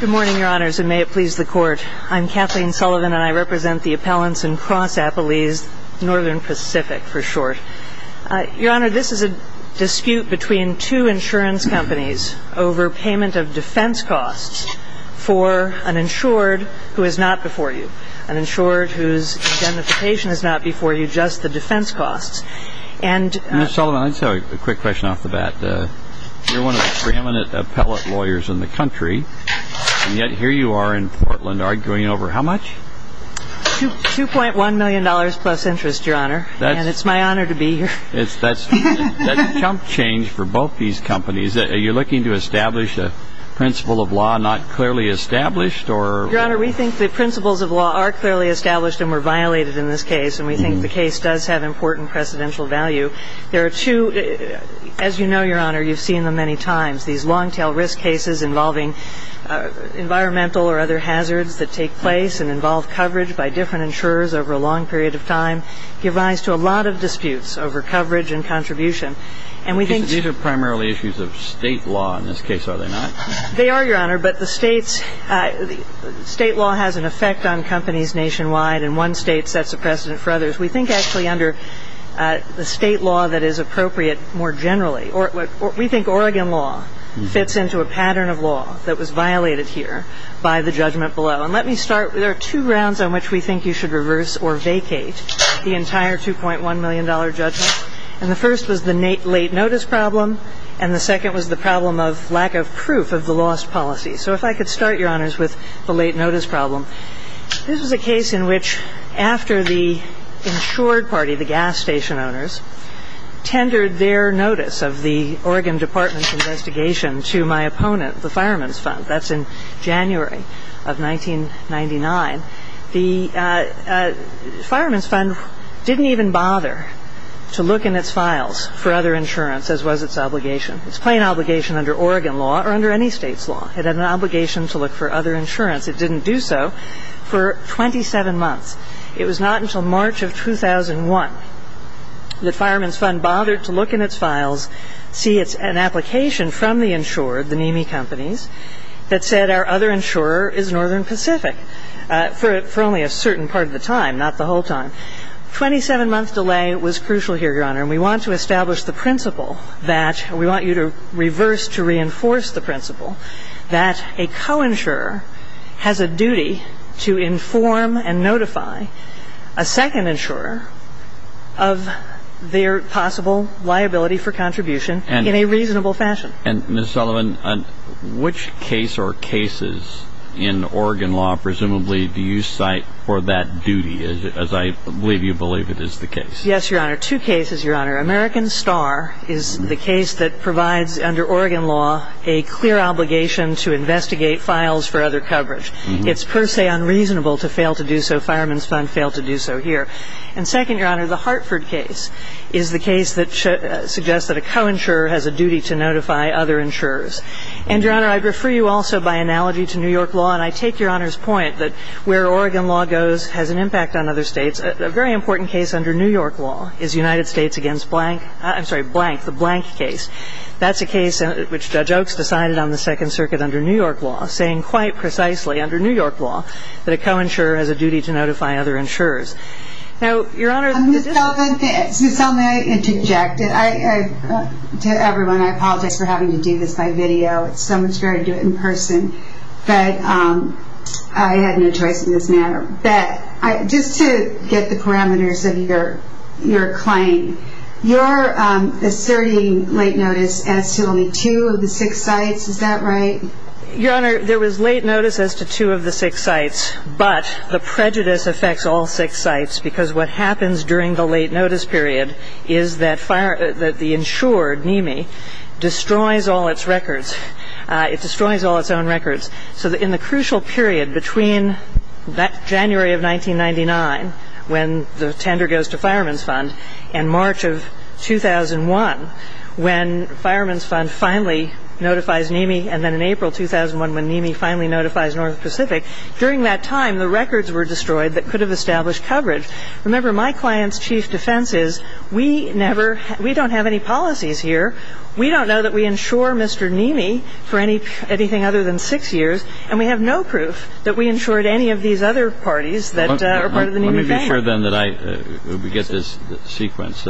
Good morning, Your Honors, and may it please the Court. I'm Kathleen Sullivan, and I represent the appellants in Cross-Appley's Northern Pacific, for short. Your Honor, this is a dispute between two insurance companies over payment of defense costs for an insured who is not before you, an insured whose identification is not before you, just the defense costs. And – Ms. Sullivan, I just have a quick question off the bat. You're one of the preeminent appellate lawyers in the country, and yet here you are in Portland arguing over how much? $2.1 million plus interest, Your Honor, and it's my honor to be here. That's a chump change for both these companies. Are you looking to establish a principle of law not clearly established, or – Your Honor, we think the principles of law are clearly established and were violated in this case, and we think the case does have important precedential value. There are two As you know, Your Honor, you've seen them many times, these long-tail risk cases involving environmental or other hazards that take place and involve coverage by different insurers over a long period of time. They rise to a lot of disputes over coverage and contribution, and we think – These are primarily issues of state law in this case, are they not? They are, Your Honor, but the states – state law has an effect on companies nationwide, and one state sets a precedent for others. We think actually under the state law that is appropriate more generally – we think Oregon law fits into a pattern of law that was violated here by the judgment below. And let me start – there are two grounds on which we think you should reverse or vacate the entire $2.1 million judgment, and the first was the late notice problem, and the second was the problem of lack of proof of the lost policy. So if I could start, Your Honors, with the late notice problem. This was a case in which after the insured party, the gas station owners, tendered their notice of the Oregon Department's investigation to my opponent, the Fireman's Fund. That's in January of 1999. The Fireman's Fund didn't even bother to look in its files for other insurance, as was its obligation. It's plain obligation under Oregon law or under any state's law. It had an obligation to look for other insurance. It didn't do so for 27 months. It was not until March of 2001 that Fireman's Fund bothered to look in its files, see an application from the insured, the NEMI companies, that said our other insurer is Northern Pacific, for only a certain part of the time, not the whole time. Twenty-seven-month delay was crucial here, Your Honor, and we want to establish the principle that we want you to reverse, to reinforce the principle that a co-insurer has a duty to inform and notify a second insurer of their possible liability for contribution in a reasonable fashion. And, Ms. Sullivan, which case or cases in Oregon law, presumably, do you cite for that duty, as I believe you believe it is the case? Yes, Your Honor. Two cases, Your Honor. American Star is the case that provides under Oregon law a clear obligation to investigate files for other coverage. It's per se unreasonable to fail to do so. Fireman's Fund failed to do so here. And second, Your Honor, the Hartford case is the case that suggests that a co-insurer has a duty to notify other insurers. And, Your Honor, I'd refer you also by analogy to New York law, and I take Your Honor's point that where Oregon law goes has an impact on other states. A very important case under New York law is United States against blank – I'm sorry, blank, the blank case. That's a case which Judge Oaks decided on the Second Circuit under New York law, saying quite precisely under New York law that a co-insurer has a duty to notify other insurers. Now, Your Honor, the difference – Ms. Sullivan, may I interject? To everyone, I apologize for having to do this by video. It's so much better to do it in person. But I had no choice in this matter. But just to get the parameters of your claim, you're asserting late notice as to only two of the six sites. Is that right? Your Honor, there was late notice as to two of the six sites. But the prejudice affects all six sites, because what happens during the late notice period is that the insured NIMI destroys all its records. It destroys all its own records. So in the crucial period between that January of 1999, when the tender goes to Fireman's Fund, and March of 2001, when Fireman's Fund finally notifies NIMI, and then in April 2001, when NIMI finally notifies North Pacific, during that time, the records were destroyed that could have established coverage. Remember, my client's chief defense is we never – we don't have any policies here. We don't know that we insure Mr. NIMI for anything other than six years. And we have no proof that we insured any of these other parties that are part of the NIMI gang. Let me be sure, then, that I – we get this sequence.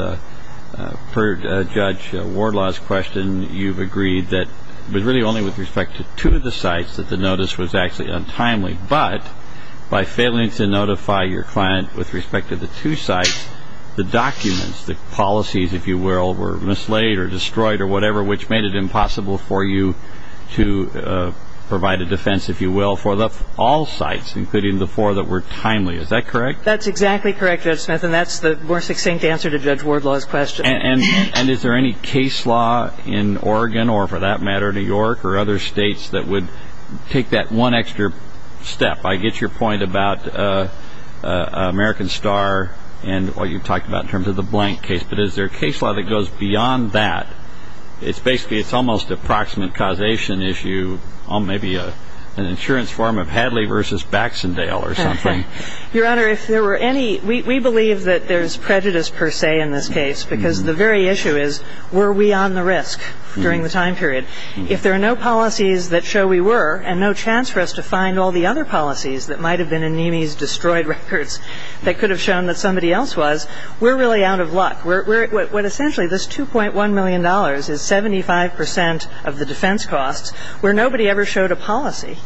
Per Judge Wardlaw's question, you've agreed that – but really only with respect to two of the sites that the notice was actually untimely. But by failing to notify your client with respect to the two sites, the documents, the policies, if you will, were mislaid or destroyed or whatever, which made it impossible for you to provide a defense, if you will, for all sites, including the four that were timely. Is that correct? That's exactly correct, Judge Smith. And that's the more succinct answer to Judge Wardlaw's question. And is there any case law in Oregon, or for that matter, New York, or other states that would take that one extra step? I get your point about American Star and what you talked about in terms of the blank case. But is there a case law that goes beyond that? It's basically – it's almost a proximate causation issue on maybe an insurance form of Hadley v. Baxendale or something. Your Honor, if there were any – we believe that there's prejudice, per se, in this case, because the very issue is were we on the risk during the time period. If there are no policies that show we were, and no chance for us to find all the other policies that might have been in Neamey's destroyed records that could have shown that somebody else was, we're really out of luck. What essentially this $2.1 million is 75 percent of the defense costs where nobody ever showed a policy.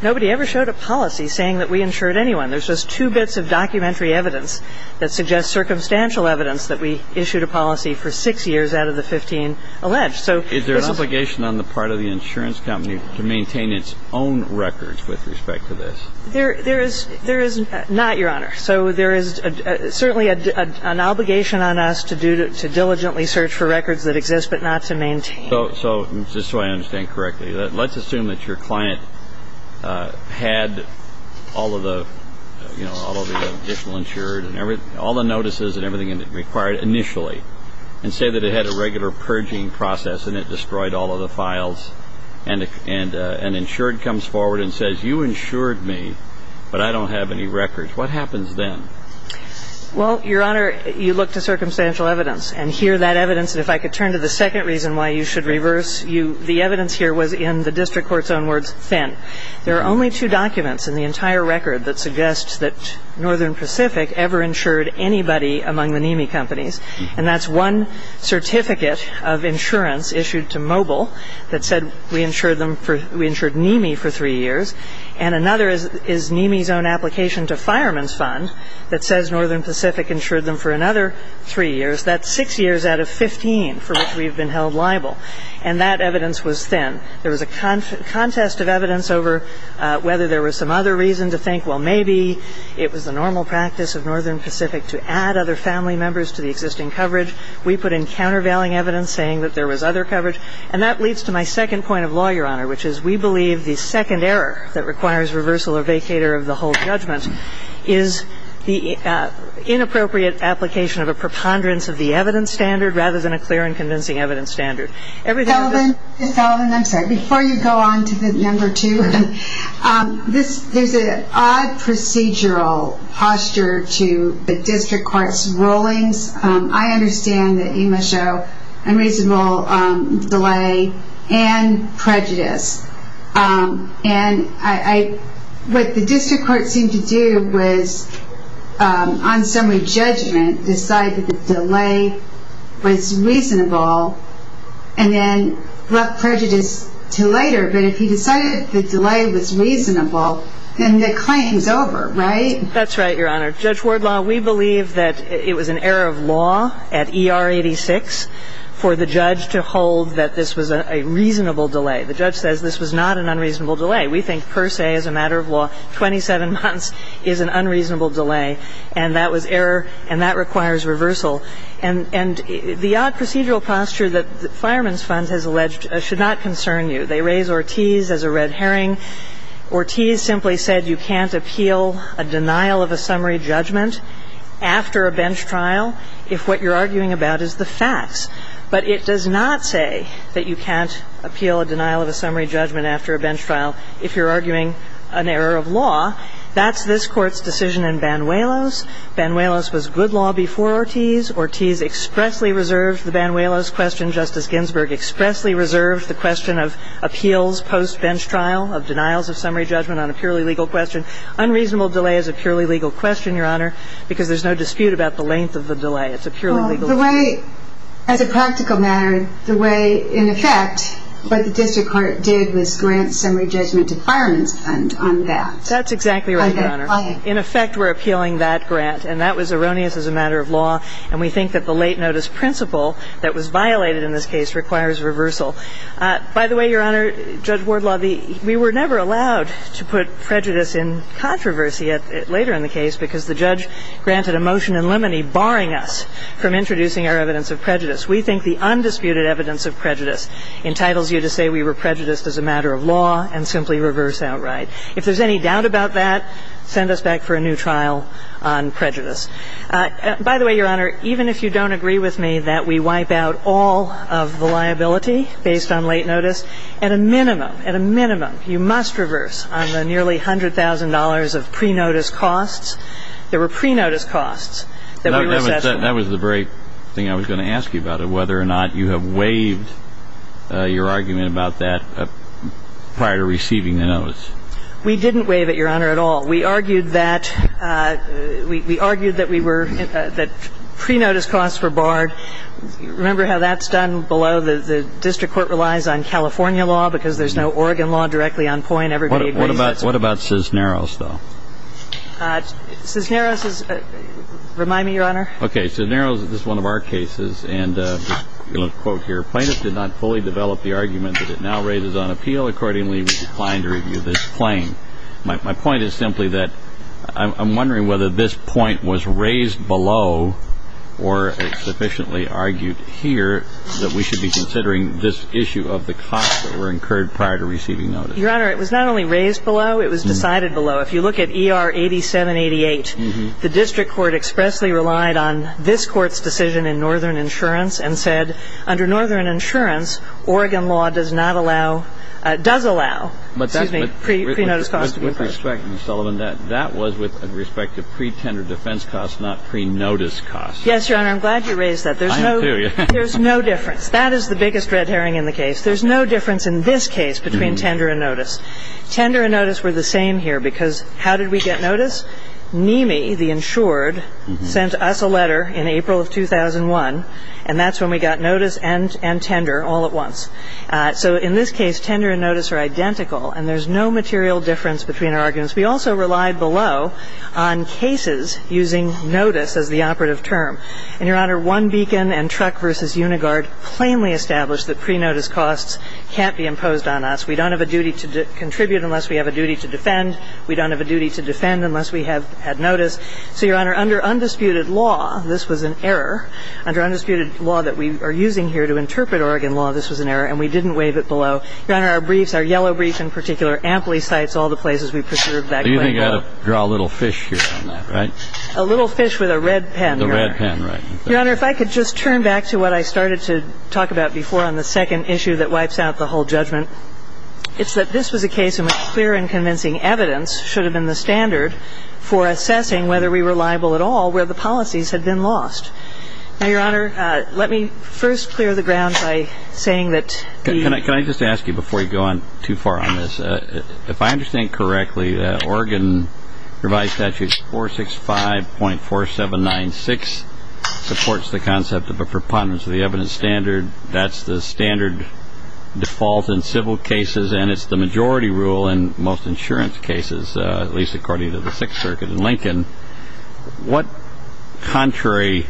Nobody ever showed a policy saying that we insured anyone. There's just two bits of documentary evidence that suggest circumstantial evidence that we issued a policy for six years out of the 15 alleged. So it's not – Is there an obligation on the part of the insurance company to maintain its own records with respect to this? There is not, Your Honor. So there is certainly an obligation on us to diligently search for records that exist, but not to maintain. So just so I understand correctly, let's assume that your client had all of the – you know, all of the additional insured and everything – all the notices and everything required initially, and say that it had a regular purging process and it destroyed all of the files, and an insured comes forward and says, you insured me, but I don't have any records. What happens then? Well, Your Honor, you look to circumstantial evidence. And here that evidence – and if I could turn to the second reason why you should reverse – the evidence here was in the district court's own words, thin. There are only two documents in the entire record that suggest that Northern Pacific ever insured anybody among the NIMI companies. And that's one certificate of insurance issued to Mobil that said we insured them for – we insured NIMI for three years. And another is NIMI's own application to Fireman's Fund that says Northern Pacific insured them for another three years. That's six years out of 15 for which we've been held liable. And that evidence was thin. There was a contest of evidence over whether there was some other reason to think, well, maybe it was the normal practice of Northern Pacific to add other family members to the existing coverage. We put in countervailing evidence saying that there was other coverage. And that leads to my second point of law, Your Honor, which is we believe the second error that requires reversal or vacator of the whole judgment is the inappropriate application of a preponderance of the evidence standard rather than a clear and convincing evidence standard. Ms. Sullivan, I'm sorry. Before you go on to the number two, there's an odd procedural posture to the district court's rulings. I understand that you must show unreasonable delay and prejudice. And I – what the district court seemed to do was on summary judgment decide that the delay was reasonable and then brought prejudice to later. But if you decided the delay was reasonable, then the claim is over, right? That's right, Your Honor. Judge Wardlaw, we believe that it was an error of law at ER 86 for the judge to hold that this was a reasonable delay. The judge says this was not an unreasonable delay. We think per se as a matter of law, 27 months is an unreasonable delay. And that was error and that requires reversal. And the odd procedural posture that Fireman's Fund has alleged should not concern you. They raise Ortiz as a red herring. Ortiz simply said you can't appeal a denial of a summary judgment after a bench trial if what you're arguing about is the facts. But it does not say that you can't appeal a denial of a summary judgment after a bench trial if you're arguing an error of law. That's this Court's decision in Banuelos. Banuelos was good law before Ortiz. Ortiz expressly reserved the Banuelos question. Justice Ginsburg expressly reserved the question of appeals post-bench trial of denials of summary judgment on a purely legal question. Unreasonable delay is a purely legal question, Your Honor, because there's no dispute about the length of the delay. It's a purely legal question. Well, the way – as a practical matter, the way in effect what the district court did was grant summary judgment to Fireman's Fund on that. That's exactly right, Your Honor. In effect, we're appealing that grant. And that was erroneous as a matter of law. And we think that the late notice principle that was violated in this case requires reversal. By the way, Your Honor, Judge Wardlaw, we were never allowed to put prejudice in controversy later in the case because the judge granted a motion in limine barring us from introducing our evidence of prejudice. We think the undisputed evidence of prejudice entitles you to say we were prejudiced as a matter of law and simply reverse outright. If there's any doubt about that, send us back for a new trial on prejudice. By the way, Your Honor, even if you don't agree with me that we wipe out all of the liability based on late notice, at a minimum, at a minimum, you must reverse on the nearly $100,000 of pre-notice costs. There were pre-notice costs that we were assessed for. That was the very thing I was going to ask you about, whether or not you have waived your argument about that prior to receiving the notice. We didn't waive it, Your Honor, at all. We argued that we were, that pre-notice costs were barred. Remember how that's done below the district court relies on California law because there's no Oregon law directly on point. Everybody agrees that's what's what's going on. What about Cisneros, though? Cisneros is, remind me, Your Honor. Okay, so Cisneros, this is one of our cases, and a little quote here, plaintiff did not fully develop the argument that it now raises on appeal. Accordingly, we declined to review this claim. My point is simply that I'm wondering whether this point was raised below or sufficiently argued here that we should be considering this issue of the costs that were incurred prior to receiving notice. Your Honor, it was not only raised below, it was decided below. If you look at ER 8788, the district court expressly relied on this court's decision in Northern Insurance and said under Northern Insurance, Oregon law does not allow, does allow, excuse me, pre-notice costs to be paid. With respect, Ms. Sullivan, that was with respect to pre-tender defense costs, not pre-notice costs. Yes, Your Honor, I'm glad you raised that. I am, too. There's no difference. That is the biggest red herring in the case. There's no difference in this case between tender and notice. Tender and notice were the same here because how did we get notice? NIMI, the insured, sent us a letter in April of 2001, and that's when we got notice and tender all at once. So in this case, tender and notice are identical, and there's no material difference between our arguments. We also relied below on cases using notice as the operative term. And, Your Honor, One Beacon and Truck v. Uniguard plainly established that pre-notice costs can't be imposed on us. We don't have a duty to contribute unless we have a duty to defend. We don't have a duty to defend unless we have had notice. So, Your Honor, under undisputed law, this was an error. Under undisputed law that we are using here to interpret Oregon law, this was an error, and we didn't waive it below. Your Honor, our briefs, our yellow brief in particular, amply cites all the places we preserved that claim. Do you think I ought to draw a little fish here on that, right? A little fish with a red pen, Your Honor. A red pen, right. Your Honor, if I could just turn back to what I started to talk about before on the second issue that wipes out the whole judgment, it's that this was a case in which clear and convincing evidence should have been the standard for assessing whether we were liable at all where the policies had been lost. Now, Your Honor, let me first clear the ground by saying that the Can I just ask you, before you go on too far on this, if I understand correctly that Oregon Revised Statute 465.4796 supports the concept of a preponderance of the evidence standard. That's the standard default in civil cases, and it's the majority rule in most insurance cases, at least according to the Sixth Circuit in Lincoln. What contrary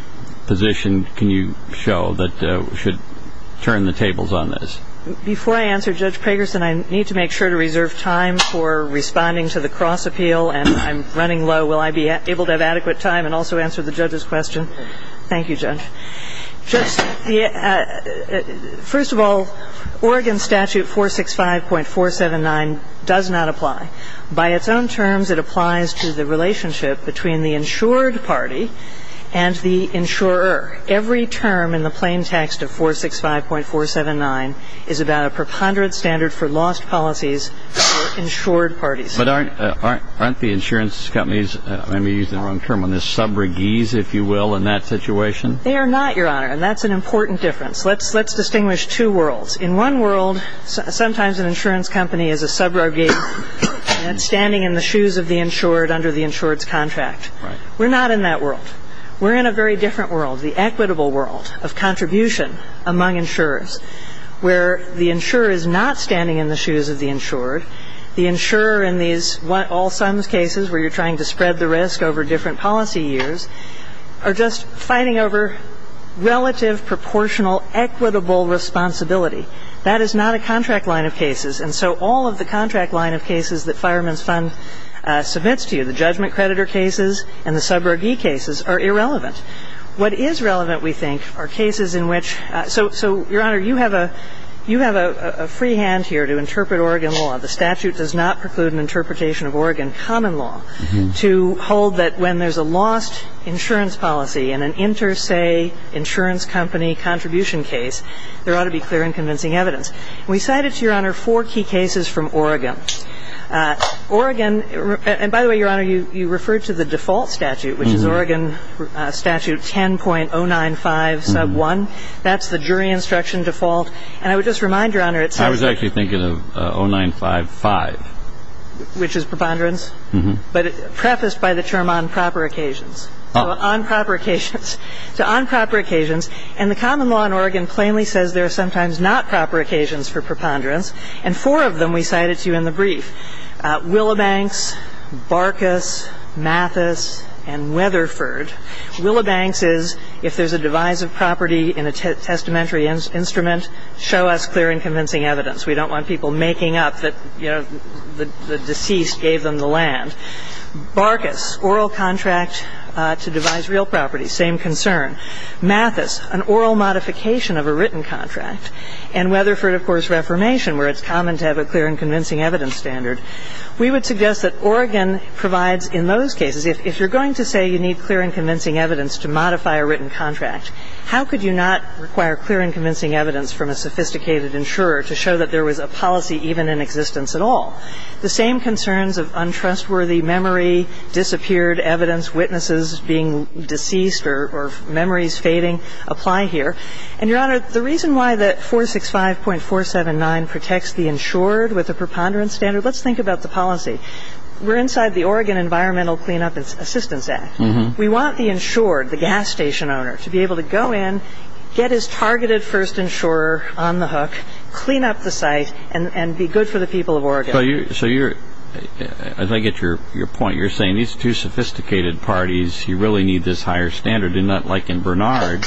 position can you show that should turn the tables on this? Before I answer, Judge Pagerson, I need to make sure to reserve time for responding to the cross appeal. And I'm running low. Will I be able to have adequate time First of all, Oregon Statute 465.479 does not apply. By its own terms, it applies to the relationship between the insured party and the insurer. Every term in the plain text of 465.479 is about a preponderance standard for lost policies for insured parties. But aren't the insurance companies, I may have used the wrong term on this, sub-regees, if you will, in that situation? They are not, Your Honor. And that's an important difference. Let's distinguish two worlds. In one world, sometimes an insurance company is a sub-regee standing in the shoes of the insured under the insured's contract. We're not in that world. We're in a very different world, the equitable world of contribution among insurers, where the insurer is not standing in the shoes of the insured. The insurer in these all-sums cases where you're trying to spread the risk over different policy years are just fighting over relative, proportional, equitable responsibility. That is not a contract line of cases. And so all of the contract line of cases that Fireman's Fund submits to you, the judgment creditor cases and the sub-regee cases, are irrelevant. What is relevant, we think, are cases in which so, Your Honor, you have a free hand here to interpret Oregon law. The statute does not preclude an interpretation of Oregon common law to hold that when there's a lost insurance policy in an inter-say insurance company contribution case, there ought to be clear and convincing evidence. We cited, to Your Honor, four key cases from Oregon. Oregon, and by the way, Your Honor, you referred to the default statute, which is Oregon Statute 10.095 sub 1. That's the jury instruction default. And I would just remind Your Honor, it says... But prefaced by the term on proper occasions. So on proper occasions. So on proper occasions. And the common law in Oregon plainly says there are sometimes not proper occasions for preponderance. And four of them we cited to you in the brief. Willibanks, Barkas, Mathis, and Weatherford. Willibanks is, if there's a divisive property in a testamentary instrument, show us clear and convincing evidence. We don't want people making up that, you know, the deceased gave them the land. Barkas, oral contract to devise real property, same concern. Mathis, an oral modification of a written contract. And Weatherford, of course, Reformation, where it's common to have a clear and convincing evidence standard. We would suggest that Oregon provides in those cases, if you're going to say you need clear and convincing evidence to modify a written contract, how could you not require clear and convincing evidence from a sophisticated insurer to show that there was a policy even in existence at all? The same concerns of untrustworthy memory, disappeared evidence, witnesses being deceased or memories fading apply here. And Your Honor, the reason why that 465.479 protects the insured with a preponderance standard, let's think about the policy. We're inside the Oregon Environmental Cleanup Assistance Act. We want the insured, the gas station owner, to be on the hook, clean up the site, and be good for the people of Oregon. So you're, as I get your point, you're saying these two sophisticated parties, you really need this higher standard. And not like in Bernard,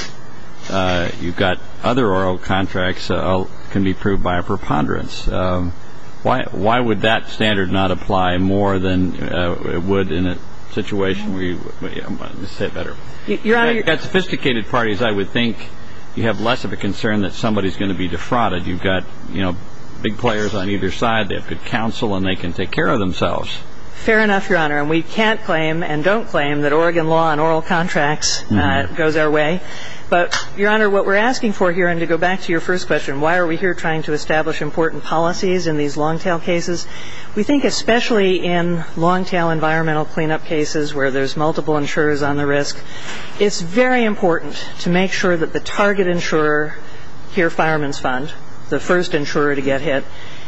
you've got other oral contracts can be proved by a preponderance. Why would that standard not apply more than it would in a situation where you, let's say it better, sophisticated parties, I would think you have less of a concern that somebody's going to be defrauded. You've got, you know, big players on either side. They have good counsel and they can take care of themselves. Fair enough, Your Honor. And we can't claim and don't claim that Oregon law on oral contracts goes our way. But Your Honor, what we're asking for here, and to go back to your first question, why are we here trying to establish important policies in these long-tail cases? We think especially in long-tail environmental cleanup cases where there's multiple insurers on the Here Fireman's Fund, the first insurer to get hit,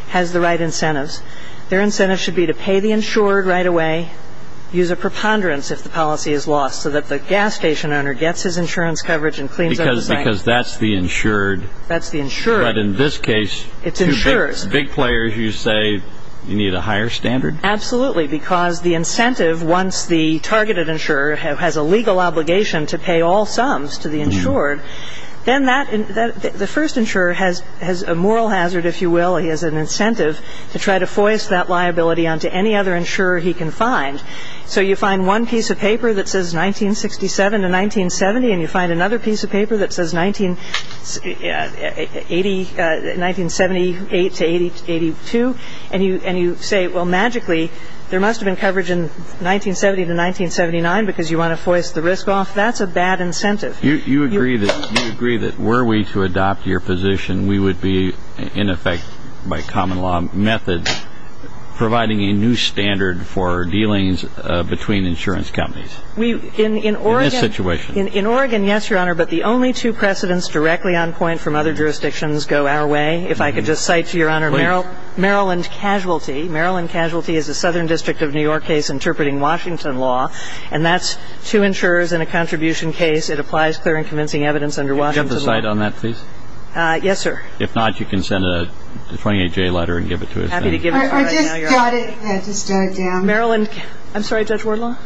has the right incentives. Their incentives should be to pay the insured right away, use a preponderance if the policy is lost so that the gas station owner gets his insurance coverage and cleans up the site. Because that's the insured. That's the insured. But in this case, two big players, you say you need a higher standard? Absolutely. Because the incentive, once the targeted insurer has a legal obligation to pay all sums to the insured, then that the first insurer has a moral hazard, if you will. He has an incentive to try to foist that liability onto any other insurer he can find. So you find one piece of paper that says 1967 to 1970, and you find another piece of paper that says 1978 to 82, and you say, well, magically, there must have been coverage in 1970 to 1979 because you want to foist the risk off. That's a bad incentive. You agree that were we to adopt your position, we would be, in effect, by common law methods, providing a new standard for dealings between insurance companies? In Oregon, yes, Your Honor, but the only two precedents directly on point from other jurisdictions go our way. If I could just cite, Your Honor, Maryland Casualty. Maryland Casualty is a contract to insurers in a contribution case. It applies clear and convincing evidence under Washington law. Could you jump to the side on that, please? Yes, sir. If not, you can send a 28-J letter and give it to us then. I'm happy to give it to you right now, Your Honor. Or just jot it down. Maryland. I'm sorry, Judge Wardlaw?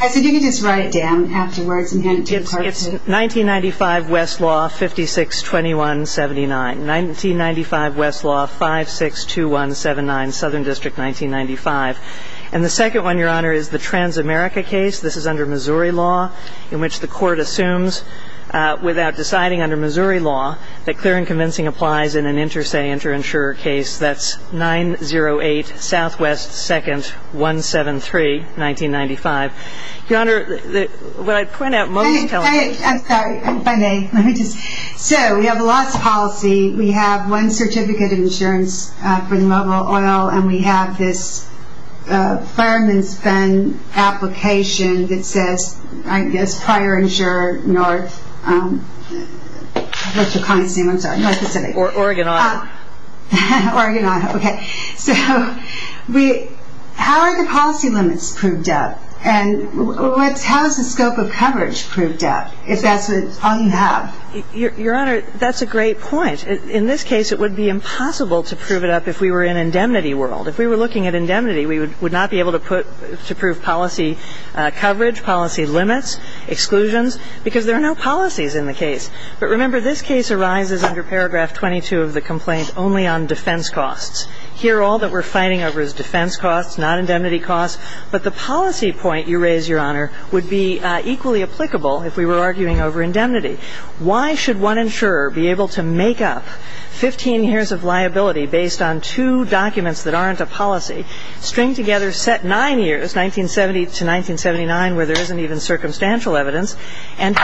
I said you could just write it down afterwards and hand it to the court. It's 1995 Westlaw 562179. 1995 Westlaw 562179, Southern District, 1995. And the second one, Your Honor, is the Transamerica case. This is under Missouri law, in which the court assumes, without deciding under Missouri law, that clear and convincing applies in an interse interinsurer case. That's 908 Southwest 2nd 173, 1995. Your Honor, what I point out most I'm sorry, let me just. So we have a loss of policy. We have one certificate of insurance for the mobile oil, and we have this fireman's fund application that says, I guess, prior insurer North, what's your client's name? I'm sorry, what's it say? Oregon Auto. Oregon Auto. Okay. So how are the policy limits proved up? And how is the scope of coverage proved up, if that's all you have? Your Honor, that's a great point. In this case, it would be impossible to prove it up if we were in indemnity world. If we were looking at indemnity, we would not be able to put to prove policy coverage, policy limits, exclusions, because there are no policies in the case. But remember, this case arises under paragraph 22 of the complaint only on defense costs. Here, all that we're fighting over is defense costs, not indemnity costs. But the policy point you raise, Your Honor, would be equally applicable if we were arguing over indemnity. Why should one insurer be able to make up 15 years of liability based on two documents that aren't a policy, string together set nine years, 1970 to 1979, where there isn't even circumstantial evidence, and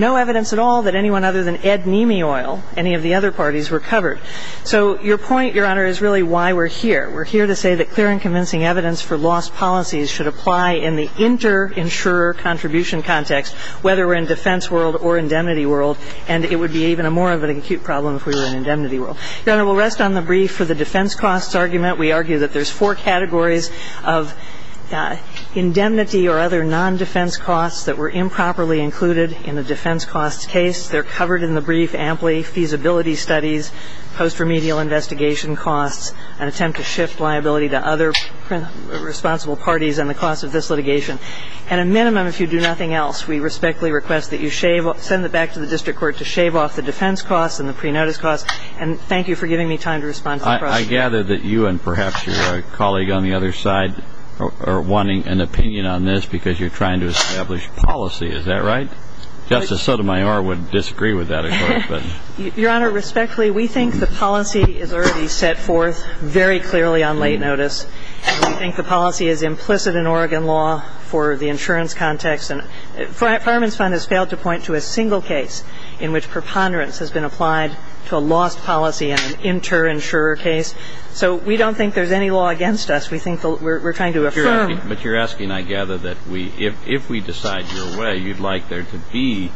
no evidence at all that anyone other than Ed Nemi Oil, any of the other parties, were covered? So your point, Your Honor, is really why we're here. We're here to say that clear and convincing evidence for lost policies should apply in the inter-insurer contribution context, whether we're in defense world or indemnity world. And it would be even a more of an acute problem if we were in indemnity world. Your Honor, we'll rest on the brief for the defense costs argument. We argue that there's four categories of indemnity or other nondefense costs that were improperly included in the defense costs case. They're covered in the brief amply, feasibility studies, post-remedial investigation costs, an attempt to shift liability to other responsible parties, and the cost of this litigation. At a minimum, if you do nothing else, we respectfully request that you send it back to the district court to shave off the defense costs and the pre-notice costs. And thank you for giving me time to respond to the questions. I gather that you and perhaps your colleague on the other side are wanting an opinion on this because you're trying to establish policy. Is that right? Justice Sotomayor would disagree with that, of course. Your Honor, respectfully, we think the policy is already set forth very clearly on late notice. And we think the policy is implicit in Oregon law for the insurance context. And Fireman's Fund has failed to point to a single case in which preponderance has been applied to a lost policy in an inter-insurer case. So we don't think there's any law against us. We think we're trying to affirm. But you're asking, I gather, that if we decide your way, you'd like there to be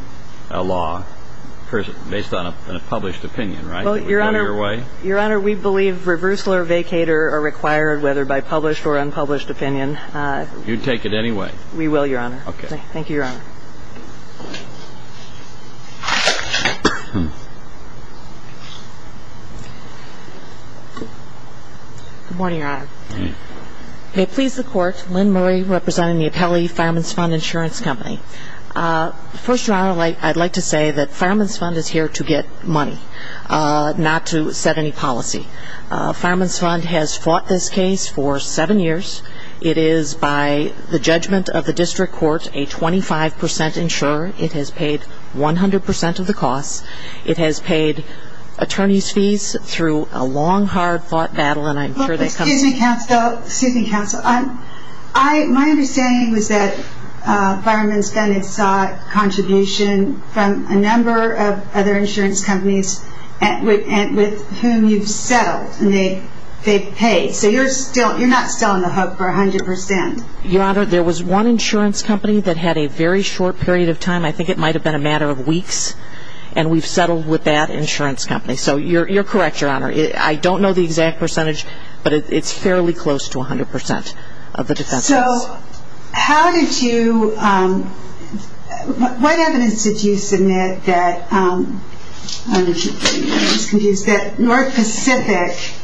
a law based on a published opinion, right? Well, Your Honor, we believe reversal or vacater are required, whether by published or unpublished opinion. You'd take it anyway? We will, Your Honor. Thank you, Your Honor. Good morning, Your Honor. May it please the Court, Lynn Murray representing the appellee Fireman's Fund Insurance Company. First, Your Honor, I'd like to say that Fireman's Fund is here to get money, not to set any policy. Fireman's Fund has fought this case for seven years. It is, by the judgment of the district court, a 25 percent insurer. It has paid 100 percent of the costs. It has paid attorneys' fees through a long, hard thought battle, and I'm sure that comes Excuse me, counsel. My understanding is that Fireman's Fund has sought contribution from a number of other insurance companies with whom you've settled, and they've paid. So you're not still on the hook for 100 percent? Your Honor, there was one insurance company that had a very short period of time. I think it might have been a matter of weeks, and we've settled with that insurance company. So you're correct, Your Honor. I don't know the exact percentage, but it's fairly close to 100 percent of the defense costs. So how did you, what evidence did you submit that, I'm just confused, that North Pacific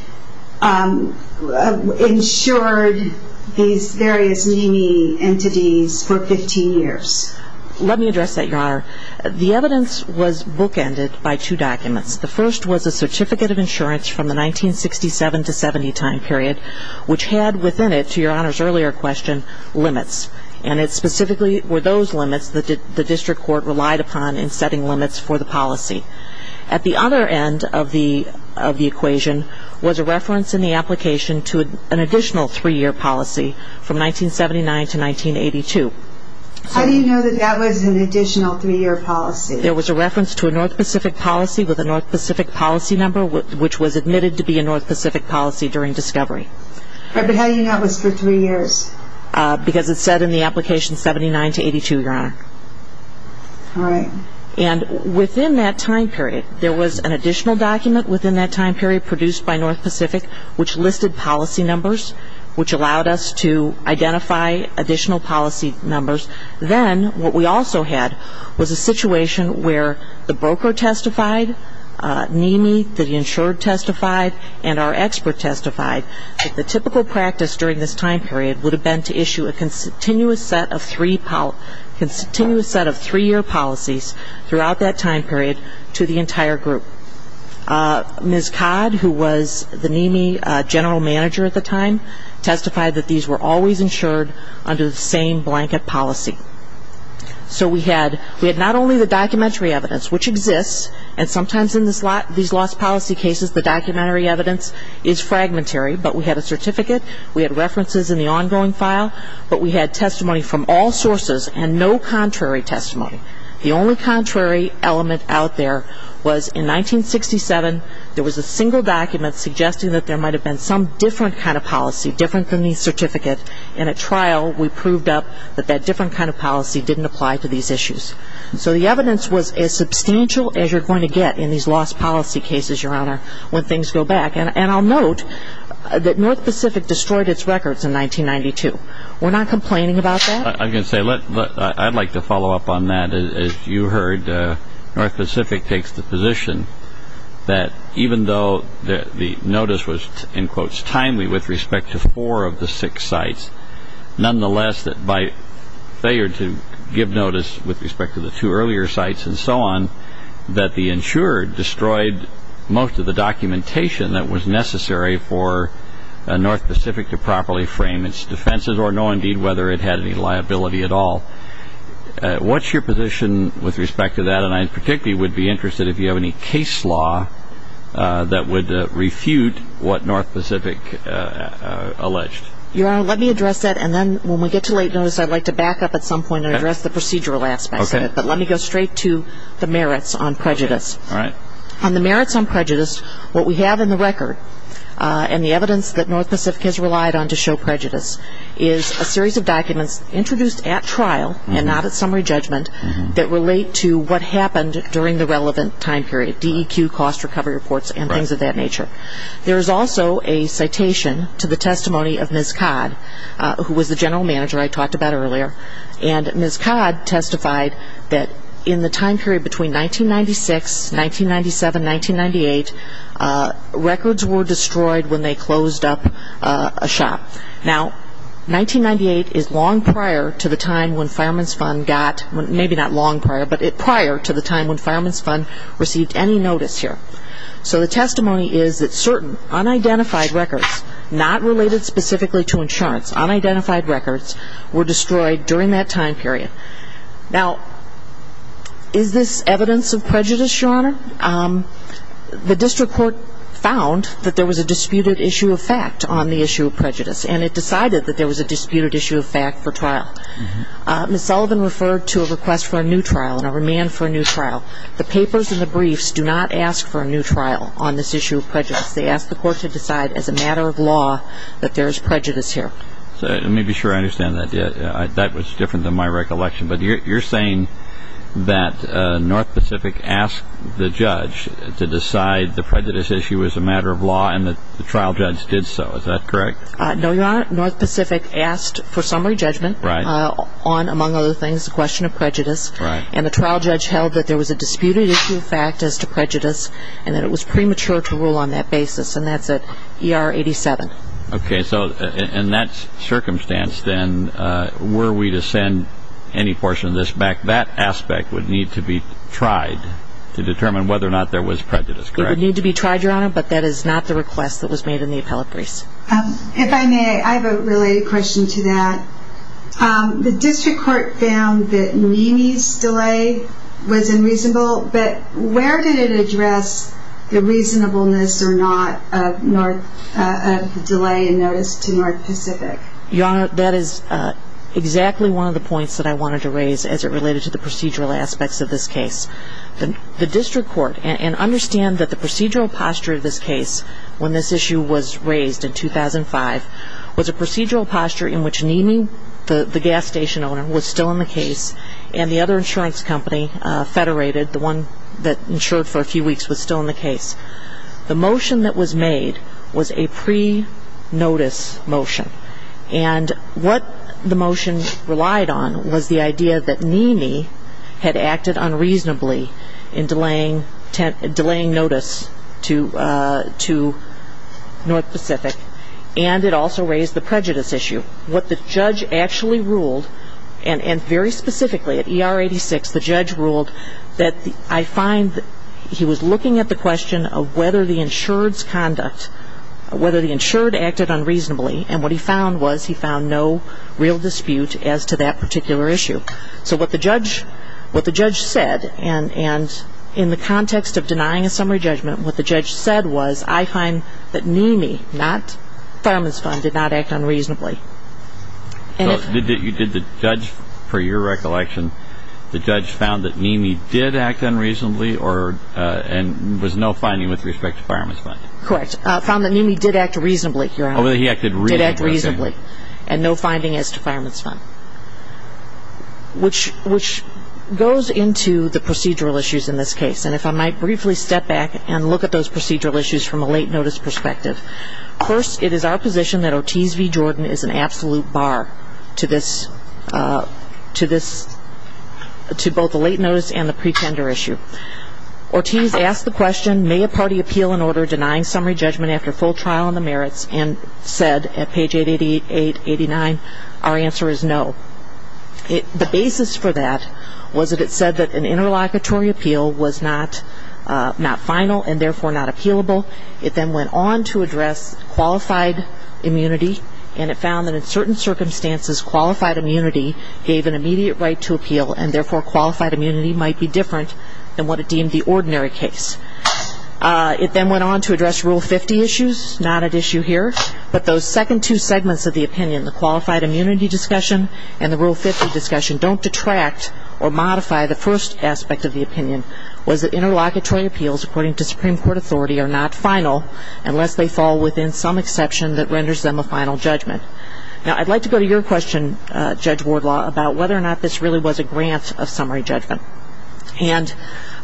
insured these various meanie entities for 15 years? Let me address that, Your Honor. The evidence was bookended by two documents. The first was a certificate of insurance from the 1967 to 70 time period, which had within it, to Your Honor's earlier question, limits. And it specifically were those limits that the district court relied upon in setting limits for the policy. At the other end of the equation was a reference in the application to an additional three-year policy from 1979 to 1982. How do you know that that was an additional three-year policy? There was a reference to a North Pacific policy with a North Pacific policy number, which was admitted to be a North Pacific policy during discovery. But how do you know it was for three years? Because it said in the application 79 to 82, Your Honor. All right. And within that time period, there was an additional document within that time period produced by North Pacific, which listed policy numbers, which allowed us to identify additional policy numbers. Then what we also had was a situation where the broker testified, NEMI, the insurer testified, and our expert testified that the typical practice during this time period would have been to issue a continuous set of three-year policies throughout that time period to the entire group. Ms. Codd, who was the NEMI general manager at the time, testified that these were always the same blanket policy. So we had not only the documentary evidence, which exists, and sometimes in these lost policy cases the documentary evidence is fragmentary, but we had a certificate, we had references in the ongoing file, but we had testimony from all sources and no contrary testimony. The only contrary element out there was in 1967, there was a single document suggesting that there might have been some different kind of policy, different than the certificate, and at trial we proved up that that different kind of policy didn't apply to these issues. So the evidence was as substantial as you're going to get in these lost policy cases, Your Honor, when things go back. And I'll note that North Pacific destroyed its records in 1992. We're not complaining about that? I'm going to say, I'd like to follow up on that. As you heard, North Pacific takes the position that even though the notice was, in quotes, timely with respect to four of the six sites, nonetheless that by failure to give notice with respect to the two earlier sites and so on, that the insurer destroyed most of the documentation that was necessary for North Pacific to properly frame its defenses or know indeed whether it had any liability at all. What's your position with respect to that? And I particularly would be interested if you have any case law that would refute what North Pacific alleged. Your Honor, let me address that and then when we get to late notice, I'd like to back up at some point and address the procedural aspect of it. But let me go straight to the merits on prejudice. On the merits on prejudice, what we have in the record and the evidence that North Pacific has relied on to show prejudice is a series of documents introduced at trial and not at summary judgment that relate to what happened during the relevant time period, DEQ, cost recovery reports and things of that nature. There is also a citation to the testimony of Ms. Codd, who was the general manager I talked about earlier. And Ms. Codd testified that in the time period between 1996, 1997, 1998, records were destroyed when they closed up a shop. Now, 1998 is long prior to the time when Fireman's Fund got, maybe not long prior, but prior to the time when Fireman's Fund received any notice here. So the testimony is that certain unidentified records, not related specifically to insurance, unidentified records were destroyed during that time period. Now, is this evidence of prejudice, Your Honor? The district court found that there was a disputed issue of fact on the issue of prejudice and it decided that there was a disputed issue of fact for trial. Ms. Sullivan referred to a request for a new trial and a remand for a new trial. The papers and the briefs do not ask for a new trial on this issue of prejudice. They ask the court to decide as a matter of law that there is prejudice here. Let me be sure I understand that. That was different than my recollection. But you're saying that North Pacific asked the judge to decide the prejudice issue as a matter of law and that the trial judge did so. Is that correct? No, Your Honor. North Pacific asked for summary judgment on, among other things, the question of prejudice and the trial judge held that there was a disputed issue of fact as to prejudice and that it was premature to rule on that basis. And that's at ER 87. Okay. So in that circumstance then, were we to send any portion of this back, that aspect would need to be tried to determine whether or not there was prejudice, correct? It would need to be tried, Your Honor, but that is not the request that was made in the appellate briefs. If I may, I have a related question to that. The district court found that Nene's delay was unreasonable, but where did it address the reasonableness or not of the delay in notice to North Pacific? Your Honor, that is exactly one of the points that I wanted to raise as it related to the procedural aspects of this case. The district court, and understand that the procedural posture in which Nene, the gas station owner, was still in the case, and the other insurance company, Federated, the one that insured for a few weeks, was still in the case. The motion that was made was a pre-notice motion. And what the motion relied on was the idea that Nene had acted unreasonably in delaying notice to North Pacific, and it also raised the question of the prejudice issue. What the judge actually ruled, and very specifically at ER 86, the judge ruled that I find that he was looking at the question of whether the insured's conduct, whether the insured acted unreasonably, and what he found was he found no real dispute as to that particular issue. So what the judge said, and in the context of denying a summary judgment, what the judge said was, I find that Nene, not Fireman's Fund, did not act unreasonably. So you did the judge, per your recollection, the judge found that Nene did act unreasonably or, and was no finding with respect to Fireman's Fund? Correct. Found that Nene did act reasonably, Your Honor. Oh, he acted reasonably. Did act reasonably. And no finding as to Fireman's Fund. Which goes into the procedural issues in this case. And if I might briefly step back and look at those procedural issues from a late notice perspective. First, it is our position that Ortiz v. Jordan is an absolute bar to this, to this, to both the late notice and the pretender issue. Ortiz asked the question, may a party appeal an order denying summary judgment after full trial on the merits and said at page 888, 889, our answer is no. The basis for that was that it said that an interlocutory appeal was not final and therefore not appealable. It then went on to address qualified immunity and it found that in certain circumstances qualified immunity gave an immediate right to appeal and therefore qualified immunity might be different than what it deemed the ordinary case. It then went on to address Rule 50 issues, not at issue here. But those second two segments of the opinion, the qualified immunity discussion and the Rule 50 discussion, don't detract or modify the first aspect of the opinion, was that interlocutory appeals according to Supreme Court authority are not final unless they fall within some exception that renders them a final judgment. Now I'd like to go to your question, Judge Wardlaw, about whether or not this really was a grant of summary judgment. And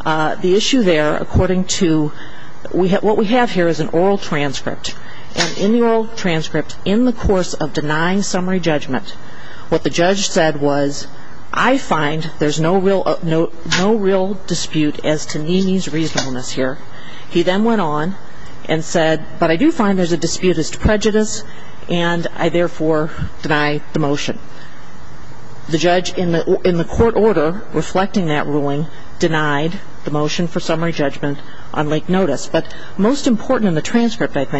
the issue there according to what we have here is an oral transcript. And in the oral transcript, in the course of denying summary judgment, what the judge said was, I find there's no real dispute as to Nene's reasonableness here. He then went on and said, but I do find there's a dispute as to prejudice and I therefore deny the motion. The judge in the court order reflecting that ruling denied the motion for summary judgment on late notice. But most important in the 49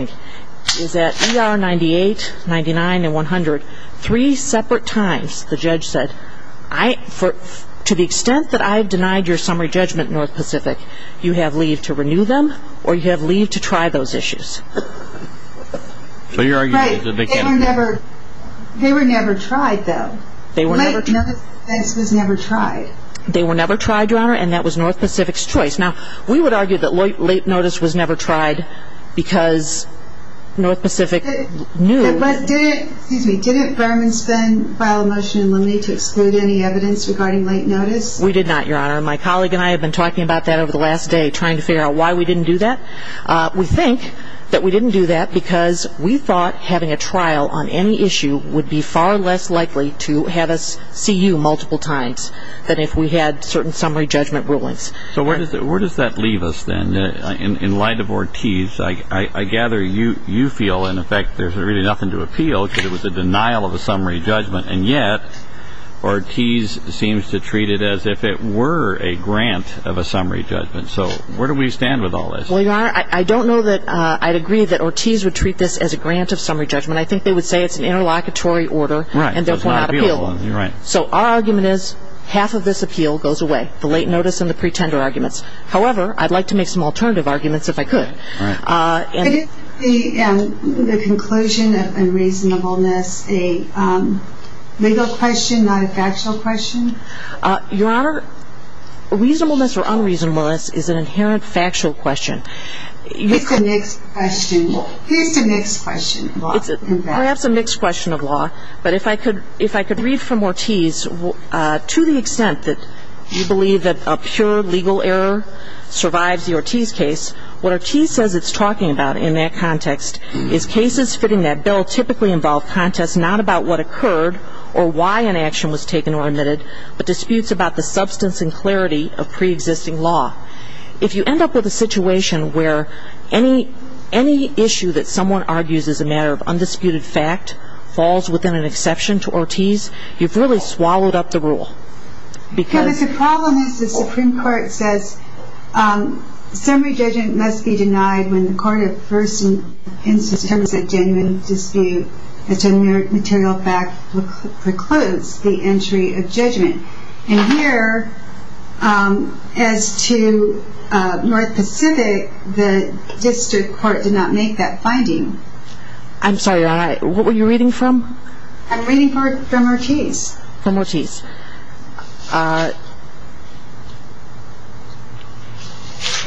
and 100, three separate times the judge said, to the extent that I've denied your summary judgment, North Pacific, you have leave to renew them or you have leave to try those issues. So you're arguing that they can't? Right. They were never tried though. Late notice was never tried. They were never tried, Your Honor, and that was North Pacific's choice. Now we would argue that late notice was never tried because North Pacific knew. But didn't, excuse me, didn't Berman Spen file a motion in Lemney to exclude any evidence regarding late notice? We did not, Your Honor. My colleague and I have been talking about that over the last day trying to figure out why we didn't do that. We think that we didn't do that because we thought having a trial on any issue would be far less likely to have us see you multiple times than if we had certain summary judgment rulings. So where does that leave us then in light of Ortiz? I gather you feel in effect there's really nothing to appeal because it was a denial of a summary judgment, and yet Ortiz seems to treat it as if it were a grant of a summary judgment. So where do we stand with all this? Well, Your Honor, I don't know that I'd agree that Ortiz would treat this as a grant of summary judgment. I think they would say it's an interlocutory order and therefore not appealable. So our argument is half of this appeal goes away, the late notice and the pretender arguments. However, I'd like to make some alternative arguments if I could. But is the conclusion of unreasonableness a legal question, not a factual question? Your Honor, reasonableness or unreasonableness is an inherent factual question. It's a mixed question. It is a mixed question, in fact. Perhaps a mixed question of law. But if I could read from Ortiz, to the extent that you believe that a pure legal error survives the Ortiz case, what Ortiz says it's talking about in that context is cases fitting that bill typically involve contests not about what occurred or why an action was taken or admitted, but disputes about the substance and clarity of preexisting law. If you end up with a situation where any issue that someone argues is a matter of undisputed fact falls within an exception to Ortiz, you've really swallowed up the rule. The problem is the Supreme Court says summary judgment must be denied when the court of first instance determines a genuine dispute as a mere material fact precludes the entry of judgment. And here, as to North Pacific, the district court did not make that finding. I'm sorry, what were you reading from? I'm reading from Ortiz. From Ortiz.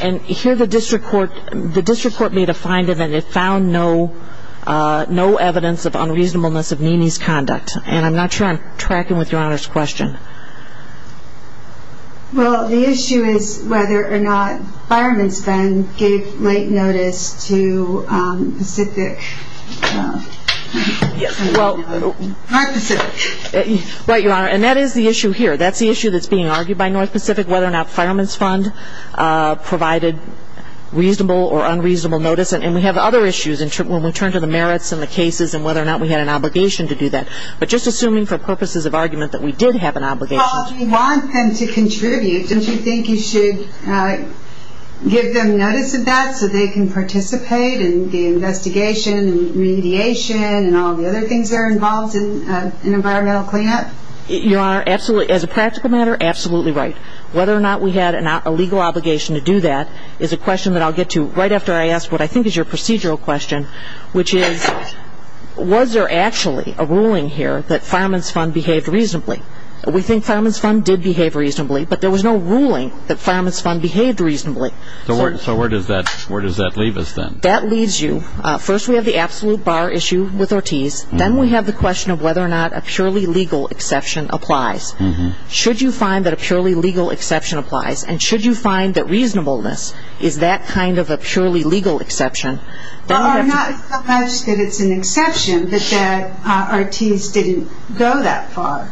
And here the district court made a finding that it found no evidence of unreasonableness of Nene's conduct. And I'm not sure I'm tracking with Your Honor's question. Well, the issue is whether or not Fireman's Fund gave late notice to Pacific. Right, Your Honor. And that is the issue here. That's the issue that's being argued by North Pacific, whether or not Fireman's Fund provided reasonable or unreasonable notice. And we have other issues when we turn to the merits and the cases and whether or not we had an obligation to do that. But just assuming for purposes of argument that we did have an obligation. Well, if you want them to contribute, don't you think you should give them notice of that so they can participate in the investigation and remediation and all the other things that are involved in environmental cleanup? Your Honor, as a practical matter, absolutely right. Whether or not we had a legal obligation to do that is a question that I'll get to right after I ask what I think is your procedural question, which is, was there actually a ruling here that Fireman's Fund behaved reasonably? We think Fireman's Fund did behave reasonably, but there was no ruling that Fireman's Fund behaved reasonably. So where does that leave us then? That leaves you. First, we have the absolute bar issue with Ortiz. Then we have the question of whether or not a purely legal exception applies. Should you find that a purely legal exception applies? And should you find that reasonableness is that kind of a purely legal exception? Well, not so much that it's an exception, but that Ortiz didn't go that far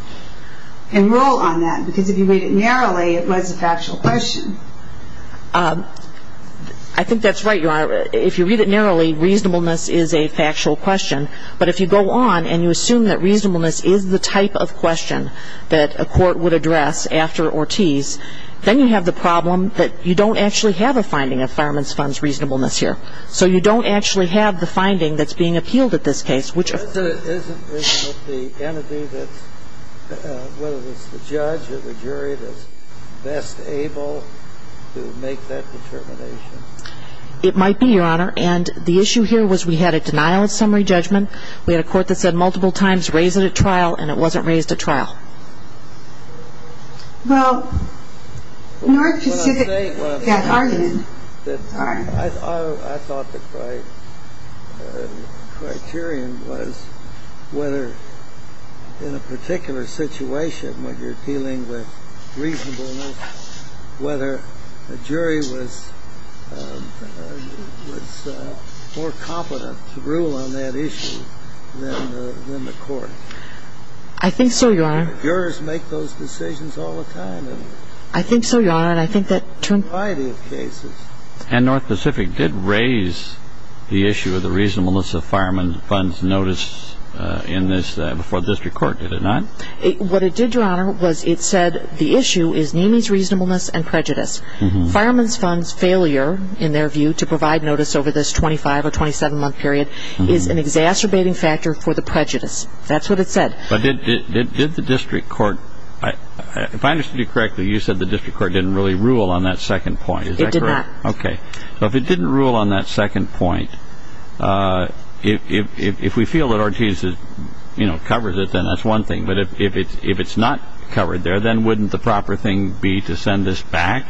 and rule on that. Because if you read it narrowly, it was a factual question. I think that's right, Your Honor. If you read it narrowly, reasonableness is a factual question. But if you go on and you assume that reasonableness is the type of question that a court would address after Ortiz, then you have the problem that you don't actually have a finding of Fireman's Fund's reasonableness here. So you don't actually have the finding that's being appealed at this case, which is a very narrow question. Isn't it the entity that's – whether it's the judge or the jury that's best able to make that determination? It might be, Your Honor. And the issue here was we had a denial of summary judgment. We had a court that said multiple times, raise it at trial. And it wasn't raised at trial. Well, North Pacific got argued that – I don't know. I don't know. I don't know. I don't know. I don't know. I don't know. I don't know. I don't know. I don't know. And I think the question is, whether in a particular situation, when you're appealing with reasonableness, whether the jury was more confident to rule on that issue than the court. I think so, Your Honor. Jurors make those decisions all the time. I think so, Your Honor. And I think that They do have the right of cases. And North Pacific did raise the issue of the reasonableness of Fireman's Fund's notice in this, before the district court, did it not? What it did, Your Honor, was it said the issue is Neamey's reasonableness and prejudice. Fireman's Fund's failure, in their view, to provide notice over this 25 or 27-month period is an exacerbating factor for the prejudice. That's what it said. But did the district court, if I understood you correctly, you said the district court didn't really rule on that second point. Is that correct? It did not. Okay. So if it didn't rule on that second point, if we feel that Ortiz has, you know, covered it, then that's one thing. But if it's not covered there, then wouldn't the proper thing be to send this back